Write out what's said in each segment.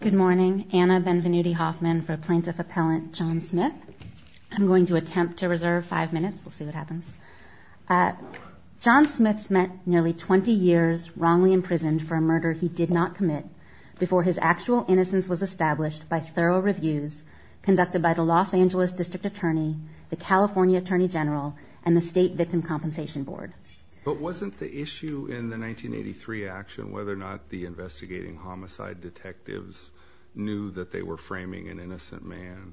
Good morning. Anna Benvenuti-Hoffman for Plaintiff Appellant John Smith. I'm going to attempt to reserve five minutes. We'll see what happens. John Smith spent nearly 20 years wrongly imprisoned for a murder he did not commit before his actual innocence was established by thorough reviews conducted by the Los Angeles District Attorney, the California Attorney General, and the State Victim Compensation Board. But wasn't the issue in the 1983 action whether or not the investigating homicide detectives knew that they were framing an innocent man?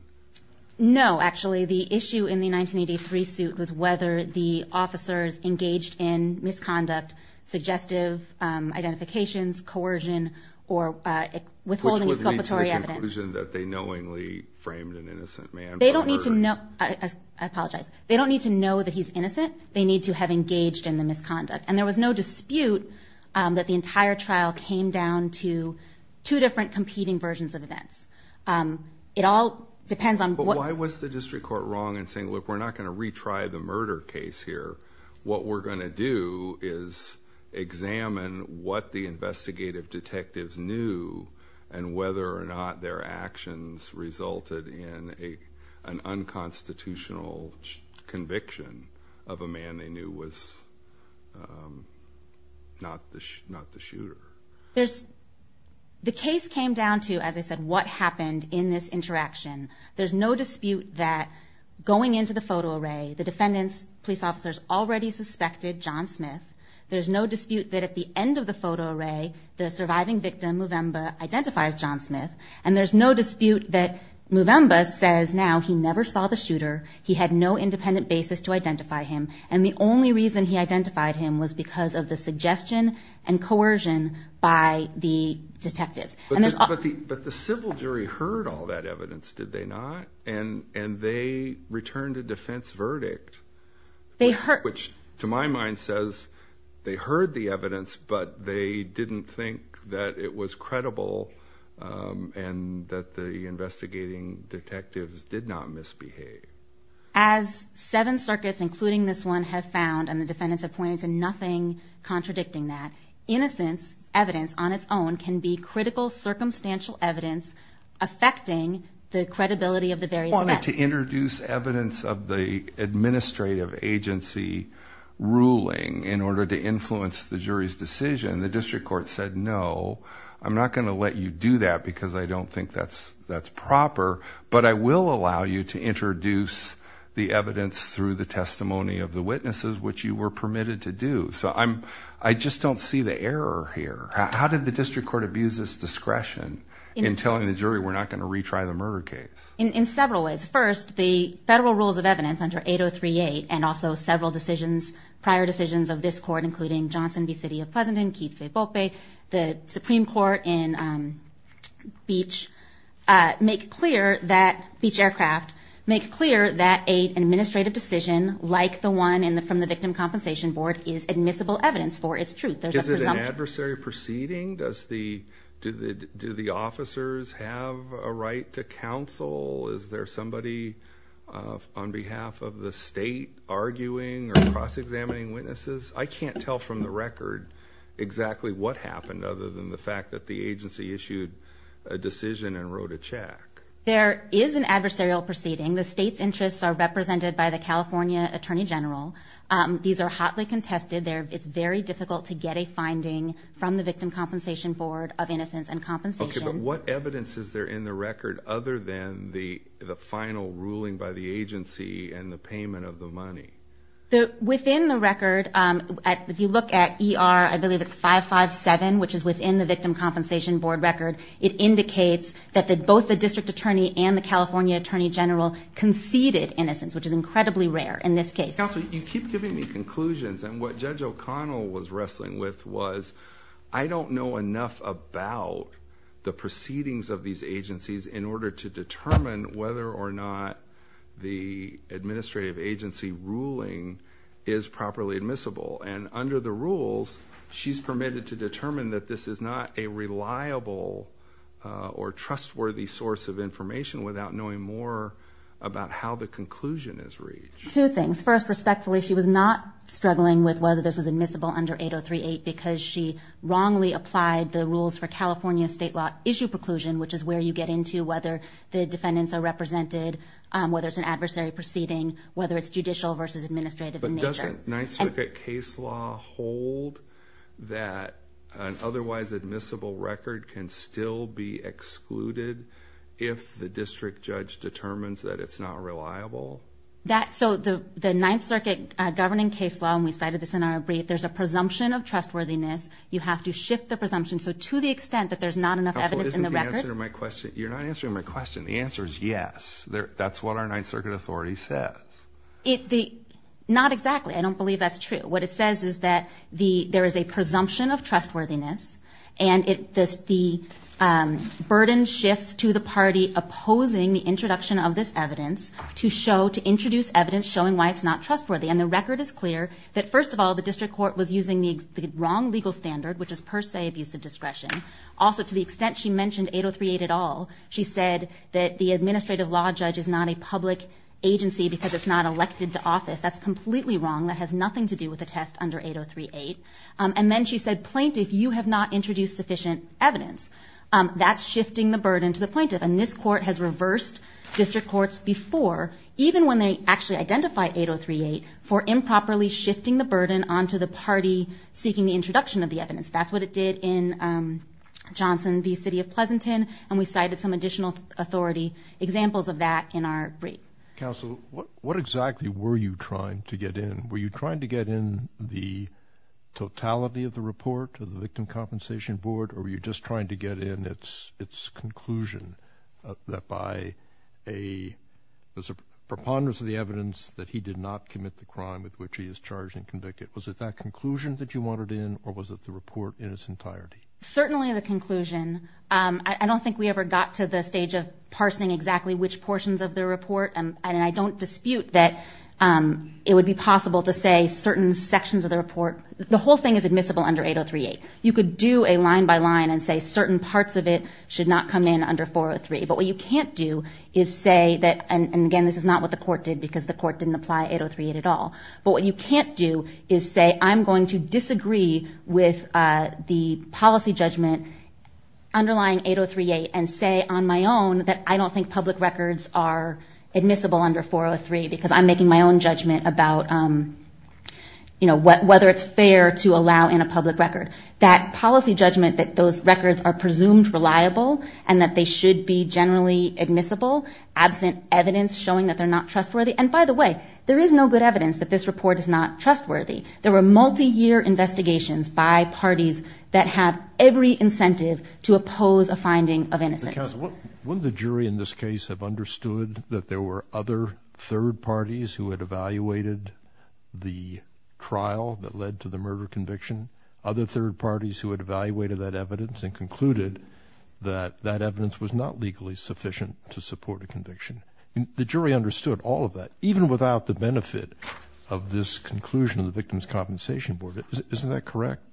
No actually. The issue in the 1983 suit was whether the officers engaged in misconduct, suggestive identifications, coercion, or withholding exculpatory evidence. Which led to the conclusion that they knowingly framed an innocent man for murder. They don't need to know. I apologize. They don't need to know that he's innocent. They need to have engaged in the misconduct. There was no dispute that the entire trial came down to two different competing versions of events. It all depends on... But why was the district court wrong in saying look we're not going to retry the murder case here. What we're going to do is examine what the investigative detectives knew and whether or not their actions resulted in an unconstitutional conviction of a man they knew was not the shooter. The case came down to, as I said, what happened in this interaction. There's no dispute that going into the photo array, the defendant's police officers already suspected John Smith. There's no dispute that at the end of the photo array, the surviving victim, Mvemba, identifies John Smith. And there's no dispute that Mvemba says now he never saw the shooter. He had no independent basis to identify him. And the only reason he identified him was because of the suggestion and coercion by the detectives. But the civil jury heard all that evidence, did they not? And they returned a defense verdict which to my mind says they heard the evidence but they didn't think that it was As seven circuits, including this one, have found and the defendants have pointed to nothing contradicting that, innocence evidence on its own can be critical circumstantial evidence affecting the credibility of the various events. I wanted to introduce evidence of the administrative agency ruling in order to influence the jury's decision. The district court said no, I'm not going to let you do that because I don't think that's proper. But I will allow you to introduce the evidence through the testimony of the witnesses which you were permitted to do. So I just don't see the error here. How did the district court abuse its discretion in telling the jury we're not going to retry the murder case? In several ways. First, the federal rules of evidence under 8038 and also several decisions, prior decisions of this court including Johnson v. City of Pleasanton, Keith v. Poppe, the Beach Aircraft, make clear that an administrative decision like the one from the Victim Compensation Board is admissible evidence for its truth. Is it an adversary proceeding? Do the officers have a right to counsel? Is there somebody on behalf of the state arguing or cross-examining witnesses? I can't tell from the record exactly what happened other than the fact that the agency issued a decision and wrote a check. There is an adversarial proceeding. The state's interests are represented by the California Attorney General. These are hotly contested. It's very difficult to get a finding from the Victim Compensation Board of Innocence and Compensation. What evidence is there in the record other than the final ruling by the agency and the payment of the money? Within the record, if you look at ER 557, which is within the Victim Compensation Board record, it indicates that both the District Attorney and the California Attorney General conceded innocence, which is incredibly rare in this case. Counsel, you keep giving me conclusions. What Judge O'Connell was wrestling with was, I don't know enough about the proceedings of these agencies in order to determine whether or not the administrative agency ruling is properly admissible. Under the rules, she's permitted to determine that this is not a reliable or trustworthy source of information without knowing more about how the conclusion is reached. Two things. First, respectfully, she was not struggling with whether this was admissible under 8038 because she wrongly applied the rules for California state law issue preclusion, which is where you get into whether the defendants are represented, whether it's an adversary proceeding, whether it's judicial versus administrative in nature. But doesn't Ninth Circuit case law hold that an otherwise admissible record can still be excluded if the district judge determines that it's not reliable? So the Ninth Circuit governing case law, and we cited this in our brief, there's a presumption of trustworthiness. You have to shift the presumption. So to the extent that there's not enough evidence in the record. You're not answering my question. The answer is yes. That's what our Ninth Circuit authority says. Not exactly. I don't believe that's true. What it says is that there is a presumption of trustworthiness and the burden shifts to the party opposing the introduction of this evidence to introduce evidence showing why it's not trustworthy. And the record is clear that first of all, the district court was using the wrong legal standard, which is per the extent she mentioned 8038 at all, she said that the administrative law judge is not a public agency because it's not elected to office. That's completely wrong. That has nothing to do with the test under 8038. And then she said, plaintiff, you have not introduced sufficient evidence. That's shifting the burden to the plaintiff. And this court has reversed district courts before, even when they actually identify 8038, for improperly shifting the burden onto the party seeking the introduction of the evidence. That's what it did in Johnson v. City of Pleasanton, and we cited some additional authority examples of that in our brief. Counsel, what exactly were you trying to get in? Were you trying to get in the totality of the report of the Victim Compensation Board, or were you just trying to get in its conclusion that by a preponderance of the evidence that he did not commit the crime with which he wanted in, or was it the report in its entirety? Certainly the conclusion. I don't think we ever got to the stage of parsing exactly which portions of the report, and I don't dispute that it would be possible to say certain sections of the report, the whole thing is admissible under 8038. You could do a line-by-line and say certain parts of it should not come in under 403. But what you can't do is say that, and again this is not what the court did because the court didn't apply 8038 at all, but what you can't do is say, I'm going to disagree with the policy judgment underlying 8038, and say on my own that I don't think public records are admissible under 403 because I'm making my own judgment about whether it's fair to allow in a public record. That policy judgment that those records are presumed reliable and that they should be generally admissible absent evidence showing that they're not trustworthy, and by the way, there is no good evidence that this report is not trustworthy. There were multi-year investigations by parties that have every incentive to oppose a finding of innocence. Counsel, wouldn't the jury in this case have understood that there were other third parties who had evaluated the trial that led to the murder conviction, other third parties who had evaluated that evidence and concluded that that evidence was not legally sufficient to support a conviction? The jury understood all of that, even without the benefit of this conclusion of the Victims' Compensation Board. Isn't that correct?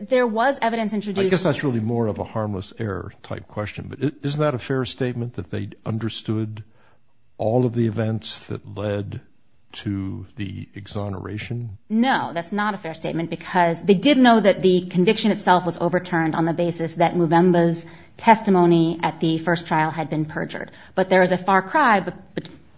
There was evidence introduced. I guess that's really more of a harmless error type question, but isn't that a fair statement that they understood all of the events that led to the exoneration? No, that's not a fair statement because they did know that the conviction itself was overturned on the basis that Muvemba's testimony at the first trial had been perjured, but there is a far cry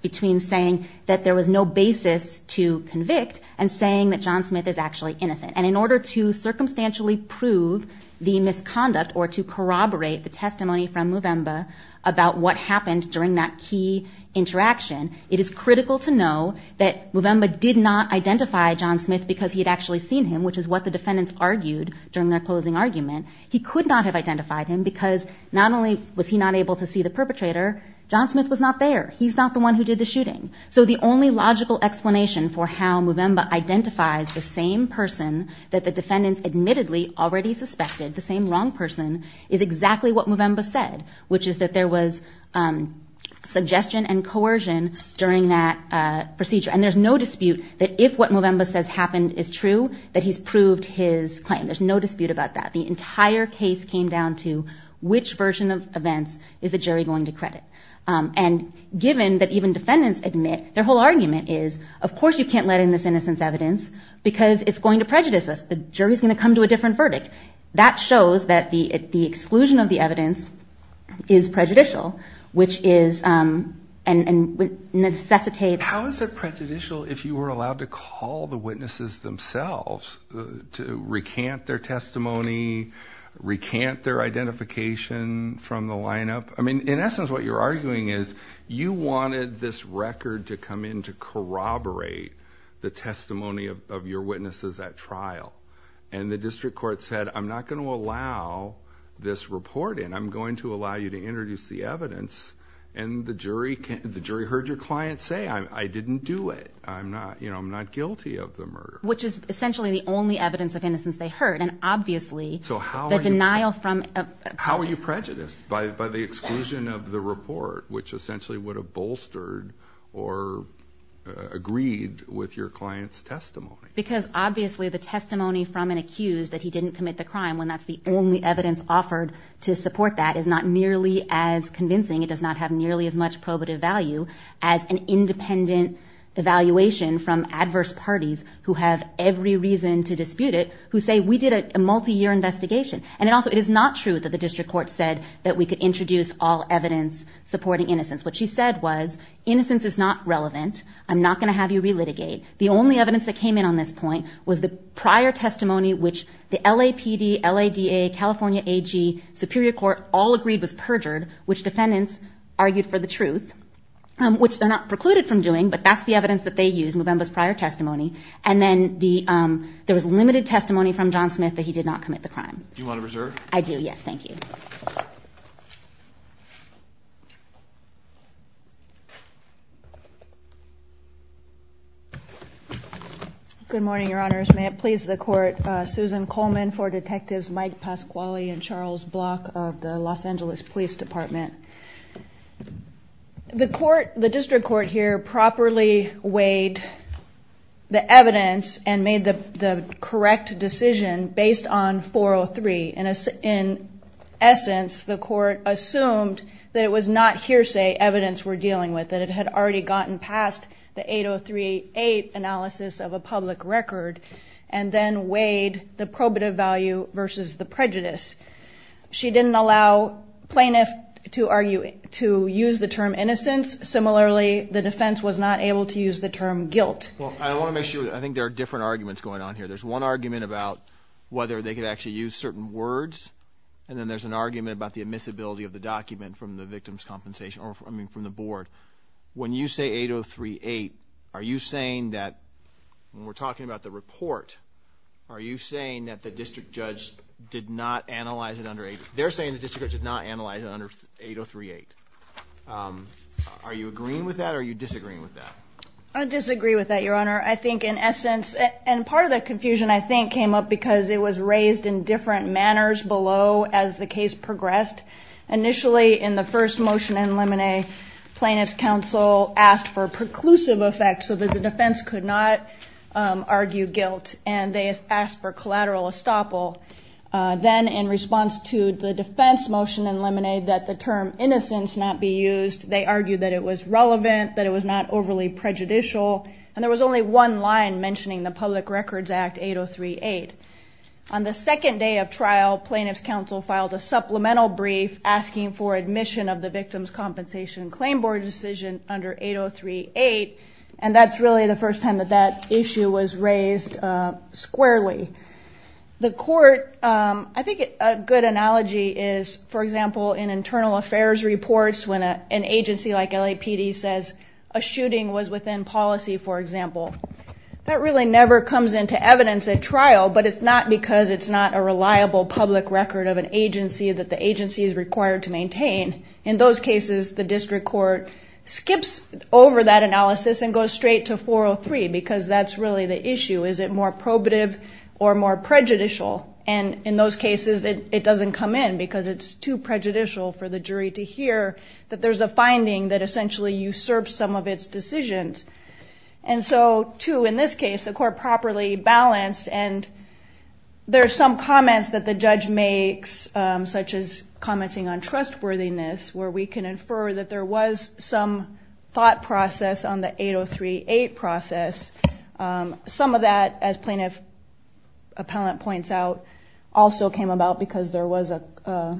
between saying that there was no basis to convict and saying that John Smith is actually innocent, and in order to circumstantially prove the misconduct or to corroborate the testimony from Muvemba about what happened during that key interaction, it is critical to know that Muvemba did not identify John Smith because he had actually seen him, which is what the defendants argued during their closing argument. He could not have identified him because not only was he not able to see the perpetrator, John Smith was not there. He's not the one who did the shooting. So the only logical explanation for how Muvemba identifies the same person that the defendants admittedly already suspected, the same wrong person, is exactly what Muvemba said, which is that there was suggestion and coercion during that procedure, and there's no dispute that if what Muvemba says happened is true, that he's proved his claim. There's no dispute about that. The entire case came down to which version of events is the jury going to credit? And given that even defendants admit, their whole argument is, of course you can't let in this innocence evidence because it's going to prejudice us. The jury's going to come to a different verdict. That shows that the exclusion of the evidence is prejudicial, which is and necessitates... How is it prejudicial if you were allowed to call the witnesses themselves to recant their testimony, recant their identification from the lineup? I mean, in essence what you're arguing is you wanted this record to come in to corroborate the testimony of your witnesses at trial, and the district court said, I'm not going to allow this report in. I'm going to allow you to introduce the evidence, and the jury heard your client say, I didn't do it. I'm not guilty of the murder. Which is essentially the only evidence of innocence they heard, and obviously the denial from... How are you prejudiced? By the exclusion of the report, which essentially would have bolstered or agreed with your client's testimony. Because obviously the testimony from an accused that he didn't commit the crime, when that's the only evidence offered to support that, is not nearly as convincing. It does not have nearly as much probative value as an independent evaluation from adverse parties who have every reason to dispute it, who say, we did a multi-year investigation. And also, it is not true that the district court said that we could introduce all evidence supporting innocence. What she said was, innocence is not relevant. I'm not going to have you relitigate. The only evidence that came in on this point was the prior testimony, which the LAPD, LADA, California AG, Superior Court, all agreed was perjured, which defendants argued for the truth. Which they're not precluded from doing, but that's the evidence that they used, Movemba's prior testimony. And then there was limited testimony from John Smith that he did not commit the crime. Do you want to reserve? I do, yes. Thank you. Good morning, your honors. May it please the court, Susan Coleman for detectives Mike Pasquale and Charles Block of the Los Angeles Police Department. The district court here properly weighed the evidence and made the correct decision based on 403. In essence, the court assumed that it was not hearsay evidence we're dealing with, that it had already gotten past the 8038 analysis of a public record and then weighed the probative value versus the prejudice. She didn't allow plaintiff to argue, to use the term innocence. Similarly, the defense was not able to use the term guilt. Well, I want to make sure, I think there are different arguments going on here. There's one argument about whether they could actually use certain words and then there's an argument about the admissibility of the document from the victim's point of view. When we're talking about the report, are you saying that the district judge did not analyze it under 8038? Are you agreeing with that or are you disagreeing with that? I disagree with that, your honor. I think in essence, and part of the confusion I think came up because it was raised in different manners below as the case progressed. Initially in the first motion in limine, plaintiff's counsel asked for a preclusive effect so that the defense could not argue guilt and they asked for collateral estoppel. Then in response to the defense motion in limine that the term innocence not be used, they argued that it was relevant, that it was not overly prejudicial, and there was only one line mentioning the public records act 8038. On the second day of trial, plaintiff's counsel filed a supplemental trial brief asking for admission of the victim's compensation claim board decision under 8038 and that's really the first time that that issue was raised squarely. The court, I think a good analogy is, for example, in internal affairs reports when an agency like LAPD says a shooting was within policy, for example. That really never comes into evidence at trial but it's not because it's not a reliable public record of an agency that the agency is required to maintain. In those cases, the district court skips over that analysis and goes straight to 403 because that's really the issue. Is it more probative or more prejudicial? In those cases, it doesn't come in because it's too prejudicial for the jury to hear that there's a finding that essentially usurps some of its decisions. Two, in this case, the court properly balanced and there's some comments that the judge makes, such as commenting on trustworthiness, where we can infer that there was some thought process on the 8038 process. Some of that, as plaintiff appellant points out, also came about because there was a,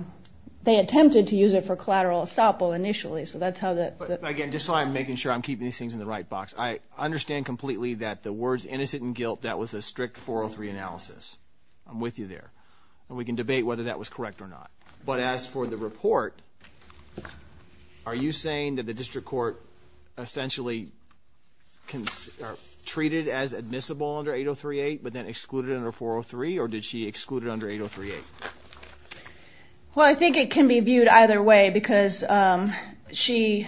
they attempted to use it for collateral estoppel initially, so that's how that... Again, just so I'm making sure I'm keeping these things in the right box, I understand completely that the words innocent and guilt, that was a strict 403 analysis. I'm with you there. We can debate whether that was correct or not. But as for the report, are you saying that the district court essentially treated as admissible under 8038 but then excluded under 403 or did she exclude it under 8038? Well, I think it can be viewed either way because she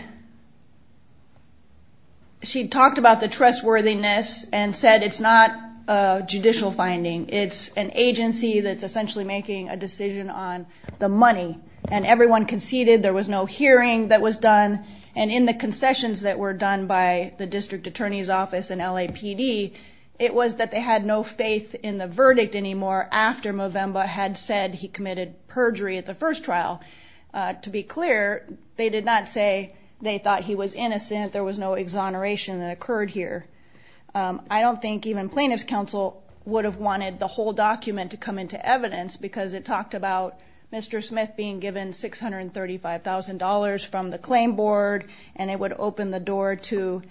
talked about the trustworthiness and said it's not a judicial finding. It's an agency that's essentially making a decision on the money and everyone conceded. There was no hearing that was done and in the concessions that were done by the district attorney's office and LAPD, it was that they had no faith in the verdict anymore after Movemba had said he committed perjury at the first trial. To be clear, they did not say they thought he was innocent. There was no exoneration that occurred here. I don't think even plaintiff's counsel would have wanted the whole document to come into evidence because it talked about Mr. Smith being given $635,000 from the claim board and it would open the door to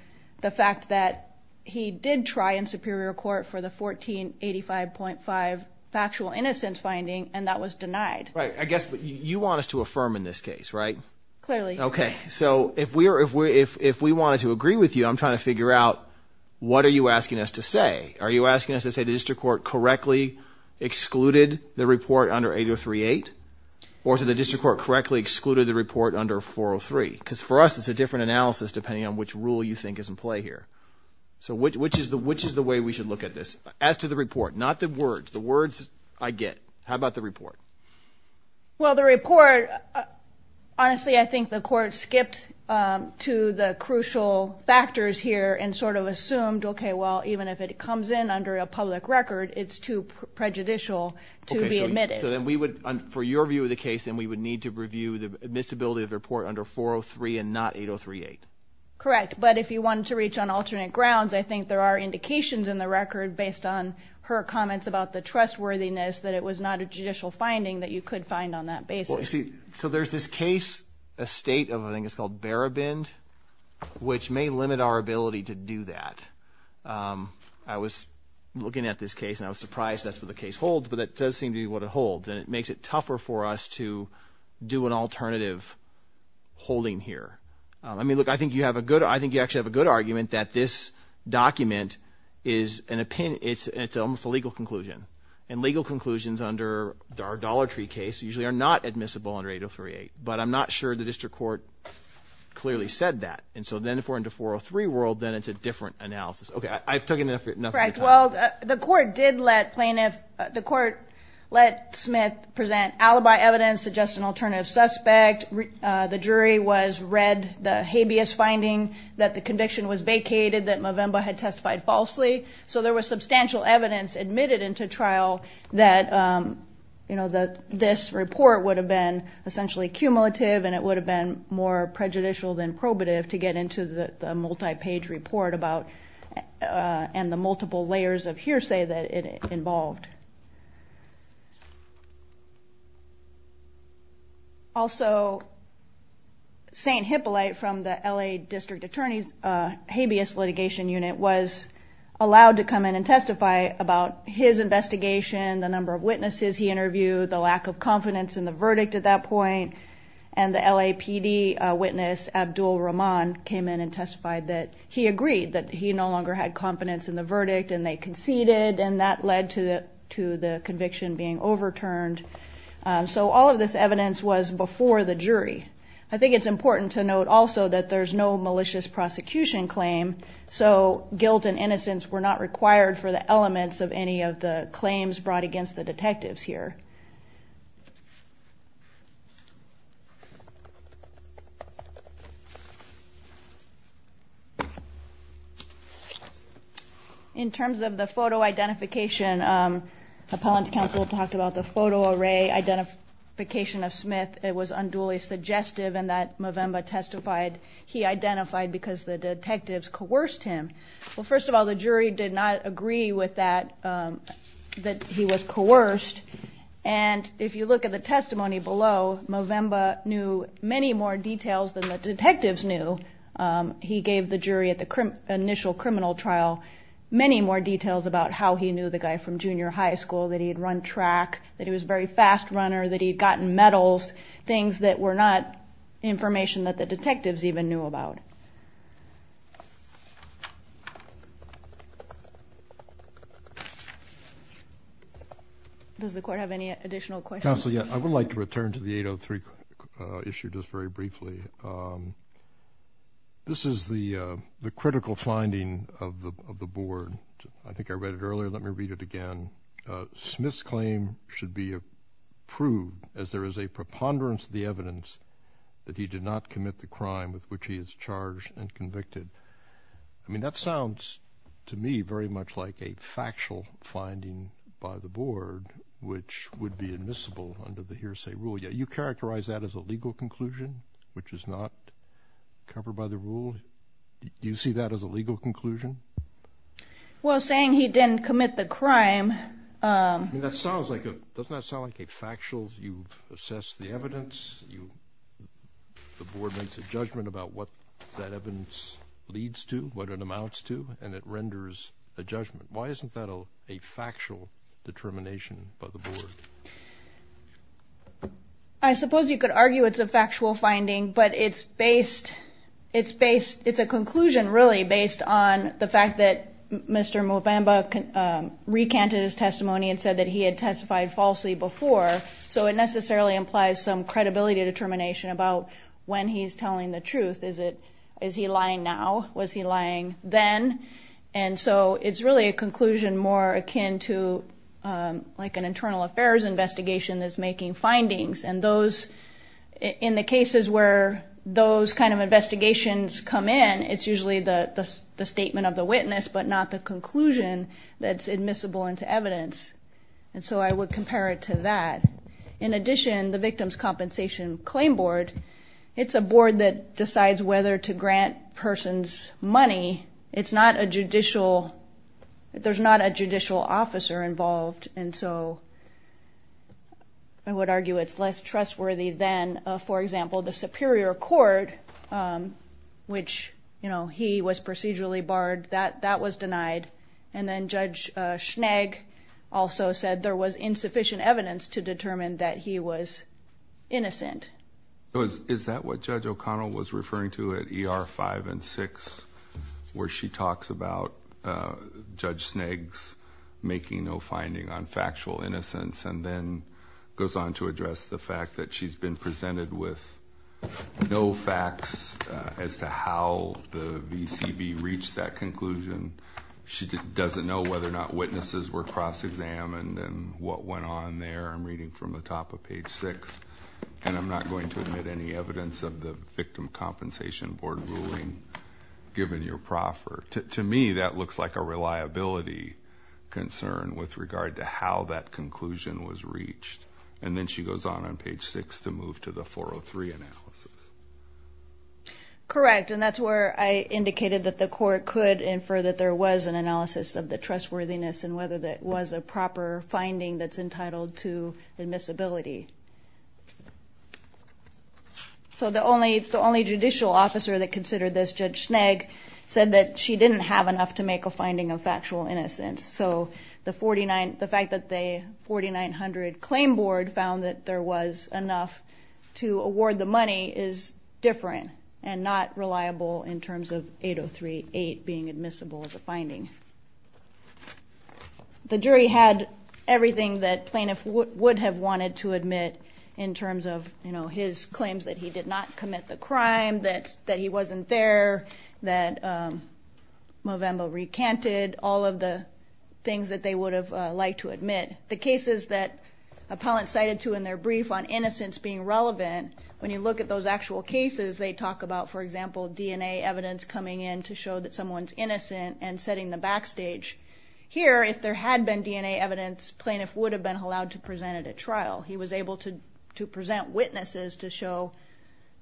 the fact that he did try in superior court for the 1485.5 factual innocence finding and that was denied. Right. I guess you want us to affirm in this case, right? Clearly. Okay. So if we wanted to agree with you, I'm trying to figure out what are you asking us to say? Are you asking us to say the district court correctly excluded the report under 8038 or to the district court correctly excluded the report under 403? Because for us, it's a different analysis depending on which rule you think is in play here. So which is the way we should look at this? As to the report, not the words, the words I get. How about the report? Well, the report, honestly, I think the court skipped to the crucial factors here and sort of assumed, okay, well, even if it comes in under a public record, it's too prejudicial to be admitted. So then we would, for your view of the case, then we would need to review the admissibility of the report under 403 and not 8038. Correct. But if you want to reach on alternate grounds, I think there are indications in the record based on her comments about the trustworthiness that it was not a judicial finding that you could find on that basis. Well, you see, so there's this case, a state of, I think it's called Barabind, which may limit our ability to do that. I was looking at this case and I was surprised that's what the case holds, but that does seem to be what it holds. And it makes it tougher for us to do an alternative holding here. I mean, look, I think you have a good, I think you actually have a good argument that this document is an opinion, it's almost a legal conclusion. And legal conclusions under our Dollar Tree case usually are not admissible under 8038. But I'm not sure the district court clearly said that. And so then if we're in the 403 world, then it's a different analysis. Okay, I've taken enough of your time. Correct. Well, the court did let plaintiff, the court let Smith present alibi evidence to suggest an alternative suspect. The jury was read the habeas finding that the conviction was vacated, that Movemba had testified falsely. So there was substantial evidence admitted into trial that this report would have been essentially cumulative and it would have been more prejudicial than probative to get into the multi-page report about, and the multiple Also, St. Hippolyte from the LA District Attorney's habeas litigation unit was allowed to come in and testify about his investigation, the number of witnesses he interviewed, the lack of confidence in the verdict at that point. And the LAPD witness, Abdul Rahman, came in and testified that he agreed that he no longer had confidence in the verdict and they conceded and that led to the conviction being overturned. So all of this evidence was before the jury. I think it's important to note also that there's no malicious prosecution claim, so guilt and innocence were not required for the elements of any of the claims brought against the detectives here. In terms of the photo identification, Appellant's counsel talked about the photo array identification of Smith. It was unduly suggestive in that Movemba testified he identified because the detectives coerced him. Well, first of all, the jury did not agree with that, that he was coerced. And if you look at the testimony below, Movemba knew many more details than the detectives knew. He gave the jury at the initial criminal trial many more details about how he knew the guy from junior high school, that he had run track, that he was a very fast runner, that he had gotten medals, things that were not information that the detectives even knew about. Does the court have any additional questions? Counsel, yeah, I would like to return to the 803 issue just very briefly. This is the critical finding of the board. I think I read it earlier. Let me read it again. Smith's claim should be approved as there is a preponderance of the evidence that he did not commit the crime with which he is charged and convicted. I mean, that sounds to me very much like a factual finding by the board, which would be admissible under the hearsay rule. Yeah, you characterize that as a legal conclusion, which is not covered by the rule. Do you see that as a legal conclusion? Well, I'm saying he didn't commit the crime. That sounds like, doesn't that sound like a factual, you've assessed the evidence, the board makes a judgment about what that evidence leads to, what it amounts to, and it renders a judgment. Why isn't that a factual determination by the board? I suppose you could argue it's a factual finding, but it's based, it's based, it's a factual finding. Bamba recanted his testimony and said that he had testified falsely before, so it necessarily implies some credibility determination about when he's telling the truth. Is it, is he lying now? Was he lying then? And so it's really a conclusion more akin to like an internal affairs investigation that's making findings. And those, in the cases where those kind of investigations come in, it's usually the statement of the witness, but not the conclusion that's admissible into evidence. And so I would compare it to that. In addition, the Victims Compensation Claim Board, it's a board that decides whether to grant persons money. It's not a judicial, there's not a judicial officer involved, and so I would argue it's less trustworthy than, for example, the Superior Court, which, you know, he was procedurally barred, that, that was denied. And then Judge Schnegg also said there was insufficient evidence to determine that he was innocent. Is that what Judge O'Connell was referring to at ER 5 and 6, where she talks about Judge Schnegg's making no finding on factual innocence, and then goes on to address the fact that she's been presented with no facts as to how the VCB reached that conclusion. She doesn't know whether or not witnesses were cross-examined and what went on there. I'm reading from the top of page 6, and I'm not going to admit any evidence of the Victim Compensation Board ruling, given your proffer. To me, that looks like a reliability concern with regard to how that conclusion was reached. And then she goes on on page 6 to move to the 403 analysis. Correct, and that's where I indicated that the court could infer that there was an analysis of the trustworthiness and whether that was a proper finding that's entitled to admissibility. So the only, the only judicial officer that considered this, Judge Schnegg, said that she didn't have enough to make a finding of factual innocence. So the 49, the fact that the 4900 Claim Board found that there was enough to award the money is different and not reliable in terms of 8038 being admissible as a finding. The jury had everything that plaintiff would have wanted to admit in terms of, you know, his claims that he did not commit the crime, that he wasn't there, that Movembo recanted, all of the things that they would have liked to admit. The cases that appellants cited to in their brief on innocence being relevant, when you look at those actual cases, they talk about, for example, DNA evidence coming in to show that someone's innocent and setting the backstage. Here, if there had been DNA evidence, plaintiff would have been allowed to present it at trial. He was able to to present witnesses to show,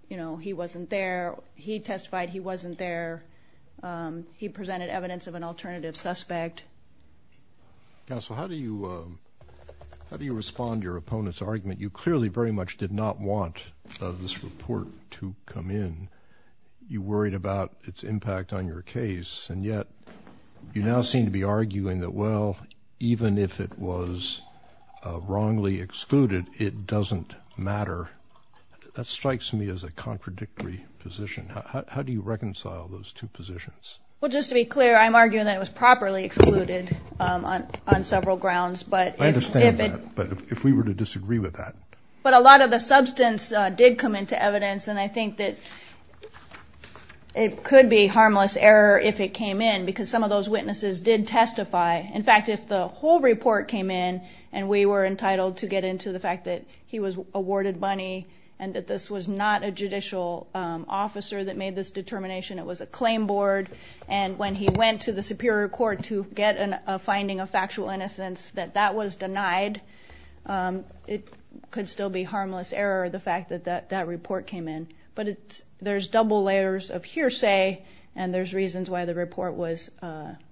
you know, he wasn't there. He testified he wasn't there. He presented evidence of an alternative suspect. Counsel, how do you respond to your opponent's argument? You clearly very much did not want this report to come in. You worried about its impact on your case. And yet you now seem to be arguing that, well, even if it was wrongly excluded, it doesn't matter. That strikes me as a contradictory position. How do you reconcile those two positions? Well, just to be clear, I'm arguing that it was properly excluded on several grounds. But I understand that. But if we were to disagree with that. But a lot of the substance did come into evidence. And I think that it could be harmless error if it came in because some of those witnesses did testify. In fact, if the whole report came in and we were entitled to get into the fact that he was awarded money and that this was not a judicial officer that made this determination, it was a claim board. And when he went to the Superior Court to get a finding of factual innocence, that that was denied, it could still be harmless error, the fact that that report came in. But there's double layers of hearsay and there's reasons why the report was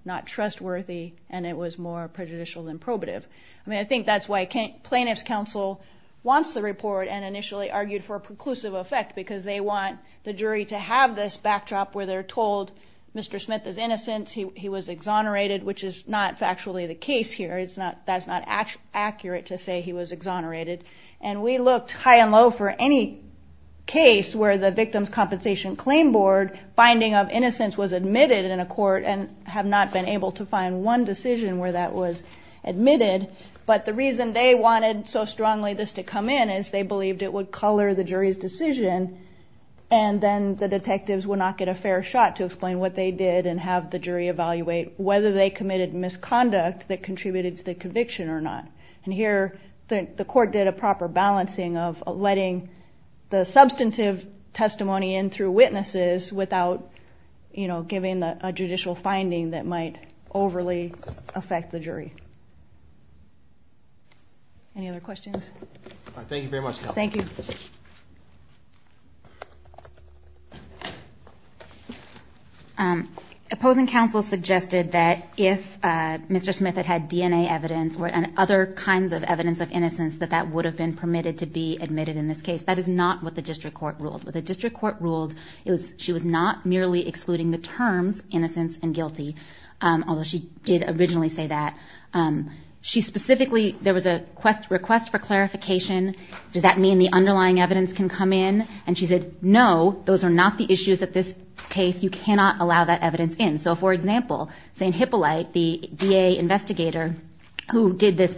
not trustworthy and it was more prejudicial than probative. I mean, I think that's why plaintiff's counsel wants the report and initially argued for a preclusive effect because they want the jury to have this backdrop where they're told Mr. Smith is innocent. He was exonerated, which is not factually the case here. It's not that's not actually accurate to say he was exonerated. And we looked high and low for any case where the Victims' Compensation Claim Board finding of innocence was admitted in a court and have not been able to find one decision where that was admitted. But the reason they wanted so strongly this to come in is they believed it would color the jury's decision and then the detectives would not get a fair shot to explain what they did and have the jury evaluate whether they committed misconduct that contributed to the conviction or not. And here the court did a proper balancing of letting the substantive testimony in through witnesses without, you know, giving a judicial finding that might overly affect the jury. Any other questions? Thank you very much. Thank you. Opposing counsel suggested that if Mr. Smith had had DNA evidence or other kinds of evidence of innocence that that would have been permitted to be admitted in this case. That is not what the district court ruled. What the district court ruled, it was she was not merely excluding the terms innocence and guilty, although she did originally say that. She specifically, there was a request for clarification. Does that mean the underlying evidence can come in? And she said, no, those are not the issues at this case. You cannot allow that evidence in. So for example, St. Hippolyte, the DA investigator who did this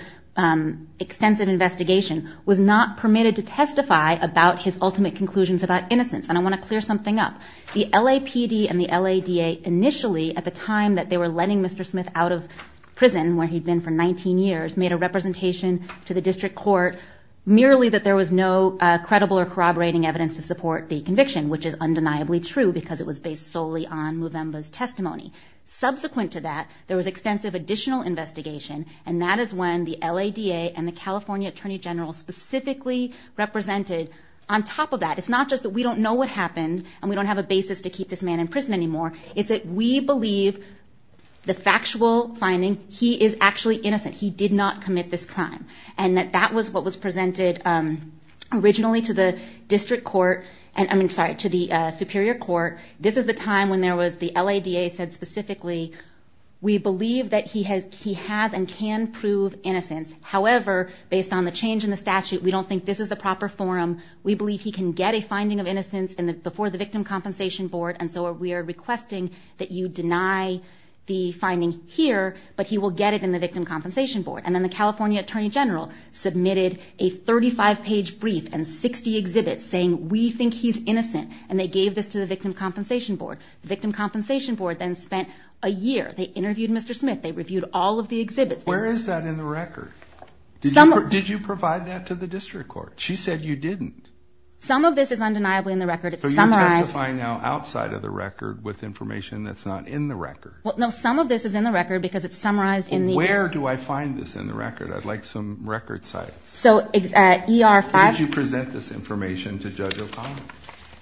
extensive investigation was not permitted to testify about his ultimate conclusions about innocence. And I want to clear something up. The LAPD and the LADA initially at the time that they were letting Mr. Smith out of prison where he'd been for 19 years made a representation to the district court merely that there was no credible or corroborating evidence to support the conviction, which is undeniably true because it was based solely on Movemba's testimony. Subsequent to that, there was extensive additional investigation and that is when the LADA and the California attorney general specifically represented. On top of that, it's not just that we don't know what happened and we don't have a basis to keep this man in prison anymore. It's that we believe the factual finding, he is actually innocent. He did not commit this crime. And that that was what was presented originally to the district court and I mean, sorry, to the superior court. This is the time when there was the LADA said specifically, we believe that he has and can prove innocence. However, based on the change in the statute, we don't think this is the proper forum. We believe he can get a finding of innocence before the victim compensation board and so we are requesting that you deny the finding here, but he will get it in the victim compensation board. And then the California attorney general submitted a 35-page brief and 60 exhibits saying we think he's innocent and they gave this to the victim compensation board. The victim compensation board then spent a year, they interviewed Mr. Smith, they reviewed all of the exhibits. Where is that in the record? Did you provide that to the judge? You're testifying now outside of the record with information that's not in the record. Well, no, some of this is in the record because it's summarized in the- Where do I find this in the record? I'd like some record site. So ER- Did you present this information to Judge O'Connell?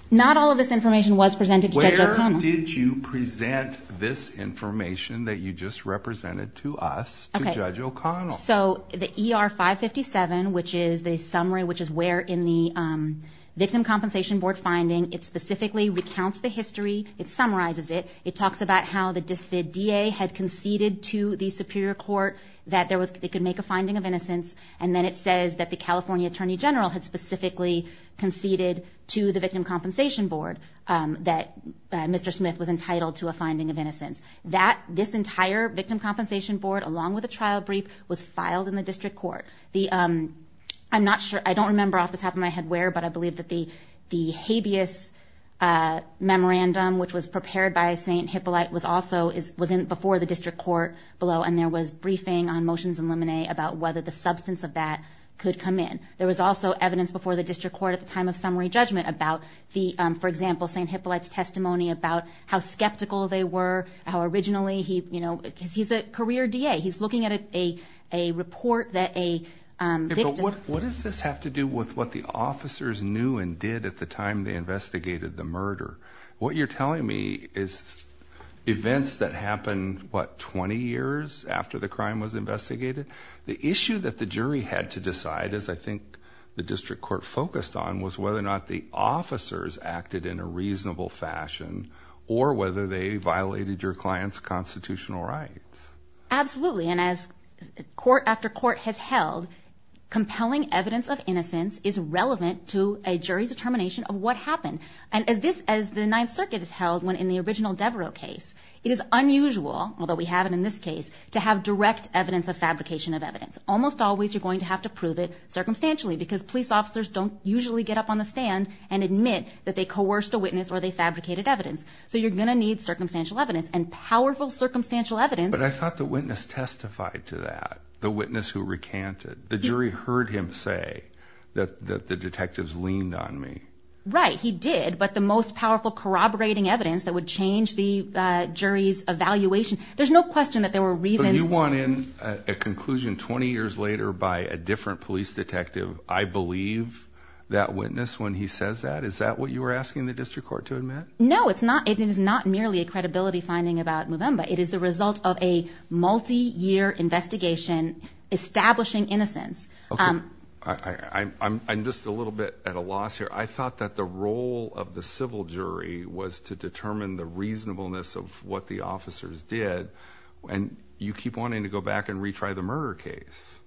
Not all of this information was presented to Judge O'Connell. Where did you present this information that you just represented to us to Judge O'Connell? So the ER-557, which is the summary, which is where in the victim compensation board finding, it specifically recounts the history, it summarizes it, it talks about how the DA had conceded to the superior court that they could make a finding of innocence and then it says that the California attorney general had specifically conceded to the victim compensation board that Mr. Smith was entitled to a finding of innocence. This entire victim compensation board, along with a trial brief, was filed in the district court. I'm not sure, I don't remember off the top of my head where, but I believe that the habeas memorandum, which was prepared by St. Hippolyte, was also, was in before the district court below and there was briefing on motions and lemonade about whether the substance of that could come in. There was also evidence before the district court at the time of summary judgment about the, for example, St. Hippolyte's testimony about how skeptical they were, how originally he, you know, because he's a career DA, he's looking at a report that a victim... What does this have to do with what the officers knew and did at the time they investigated the murder? What you're telling me is events that happened, what, 20 years after the crime was investigated? The issue that the jury had to decide, as I think the district court focused on, was whether or not the officers acted in a reasonable fashion or whether they violated your client's constitutional rights. Absolutely, and as court after court has held, compelling evidence of innocence is relevant to a jury's determination of what happened. And as this, as the Ninth Circuit has held, when in the original Devereux case, it is unusual, although we have it in this case, to have direct evidence of fabrication of evidence. Almost always you're going to have to prove it stand and admit that they coerced a witness or they fabricated evidence. So you're going to need circumstantial evidence and powerful circumstantial evidence. But I thought the witness testified to that, the witness who recanted. The jury heard him say that the detectives leaned on me. Right, he did. But the most powerful corroborating evidence that would change the jury's evaluation, there's no question that there were reasons... But you want in a conclusion 20 years later by a different police detective, I believe that witness when he says that, is that what you were asking the district court to admit? No, it's not. It is not merely a credibility finding about Movemba. It is the result of a multi-year investigation establishing innocence. I'm just a little bit at a loss here. I thought that the role of the civil jury was to determine the reasonableness of what the officers did. And you keep wanting to go back and retry the murder case.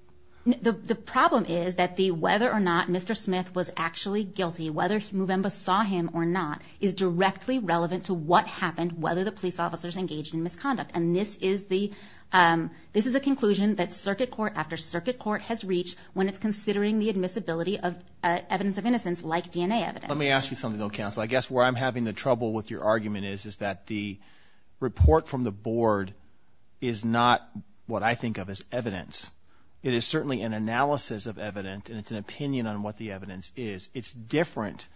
The problem is that whether or not Mr. Smith was actually guilty, whether Movemba saw him or not, is directly relevant to what happened, whether the police officers engaged in misconduct. And this is a conclusion that circuit court after circuit court has reached when it's considering the admissibility of evidence of innocence like DNA evidence. Let me ask you something, though, counsel. I guess where I'm having the trouble with your argument is that the what I think of as evidence, it is certainly an analysis of evidence and it's an opinion on what the evidence is. It's different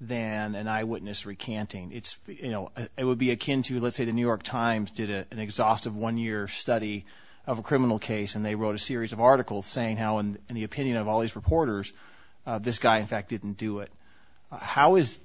than an eyewitness recanting. It's, you know, it would be akin to, let's say, the New York Times did an exhaustive one-year study of a criminal case and they wrote a series of articles saying how, in the opinion of all these reporters, this guy, in fact, didn't do it. How is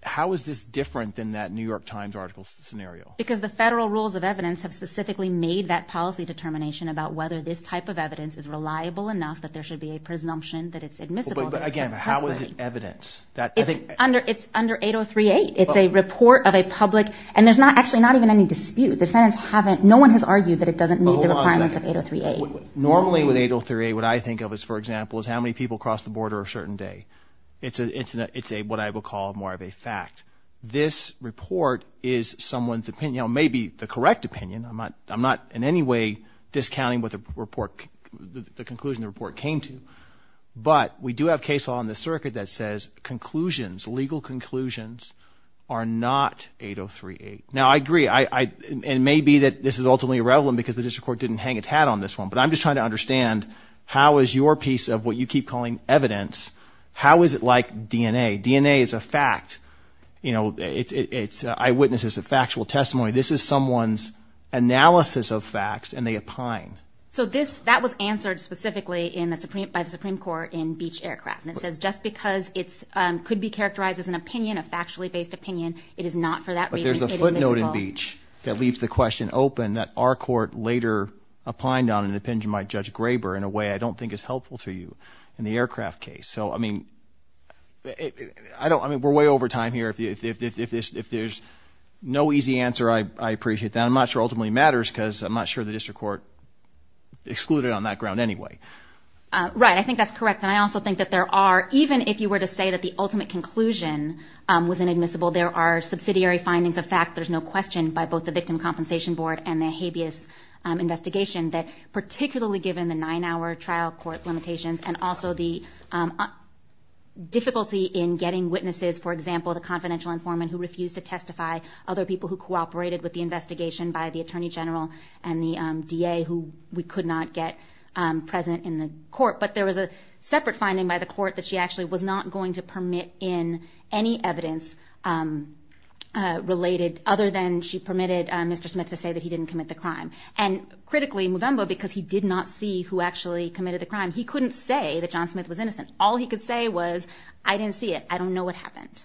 how is this different than that New York Times article scenario? Because the federal rules of evidence have specifically made that policy determination about whether this type of evidence is reliable enough that there should be a presumption that it's admissible. But again, how is it evidence that it's under? It's under 8038. It's a report of a public and there's not actually not even any dispute. The defendants haven't. No one has argued that it doesn't meet the requirements of 8038. Normally with 8038, what I think of is, for example, is how many people cross the border a certain day. It's a it's a it's a what I would call more of a fact. This report is someone's opinion, maybe the correct opinion. I'm not I'm not in any way discounting what the report the conclusion the report came to. But we do have case law on the circuit that says conclusions, legal conclusions are not 8038. Now, I agree. I and maybe that this is ultimately irrelevant because the district court didn't hang its hat on this one. But I'm just trying to understand how is your piece of what you keep calling evidence? How is it like DNA? DNA is a fact. You know, it's eyewitnesses, a factual testimony. This is someone's analysis of facts and they opine. So this that was answered specifically in the Supreme by the Supreme Court in Beach Aircraft. And it says just because it's could be characterized as an opinion, a factually based opinion. It is not for that. But there's a footnote in Beach that leaves the question open that our court later opined on an opinion by Judge Graber in a way I don't. I mean, we're way over time here. If there's no easy answer, I appreciate that. I'm not sure ultimately matters because I'm not sure the district court excluded on that ground anyway. Right. I think that's correct. And I also think that there are even if you were to say that the ultimate conclusion was inadmissible, there are subsidiary findings of fact. There's no question by both the Victim Compensation Board and the habeas investigation that particularly given the nine hour trial court limitations and also the difficulty in getting witnesses, for example, the confidential informant who refused to testify, other people who cooperated with the investigation by the attorney general and the D.A. who we could not get present in the court. But there was a separate finding by the court that she actually was not going to permit in any evidence related other than she permitted Mr. Smith to say that he didn't commit the crime. And critically, Movembo, because he did not see who actually committed the crime, he couldn't say that John Smith was I didn't see it. I don't know what happened.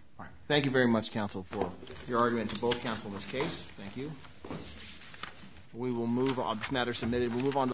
Thank you very much, counsel, for your argument to both counsel in this case. Thank you. We will move on this matter submitted. We'll move on.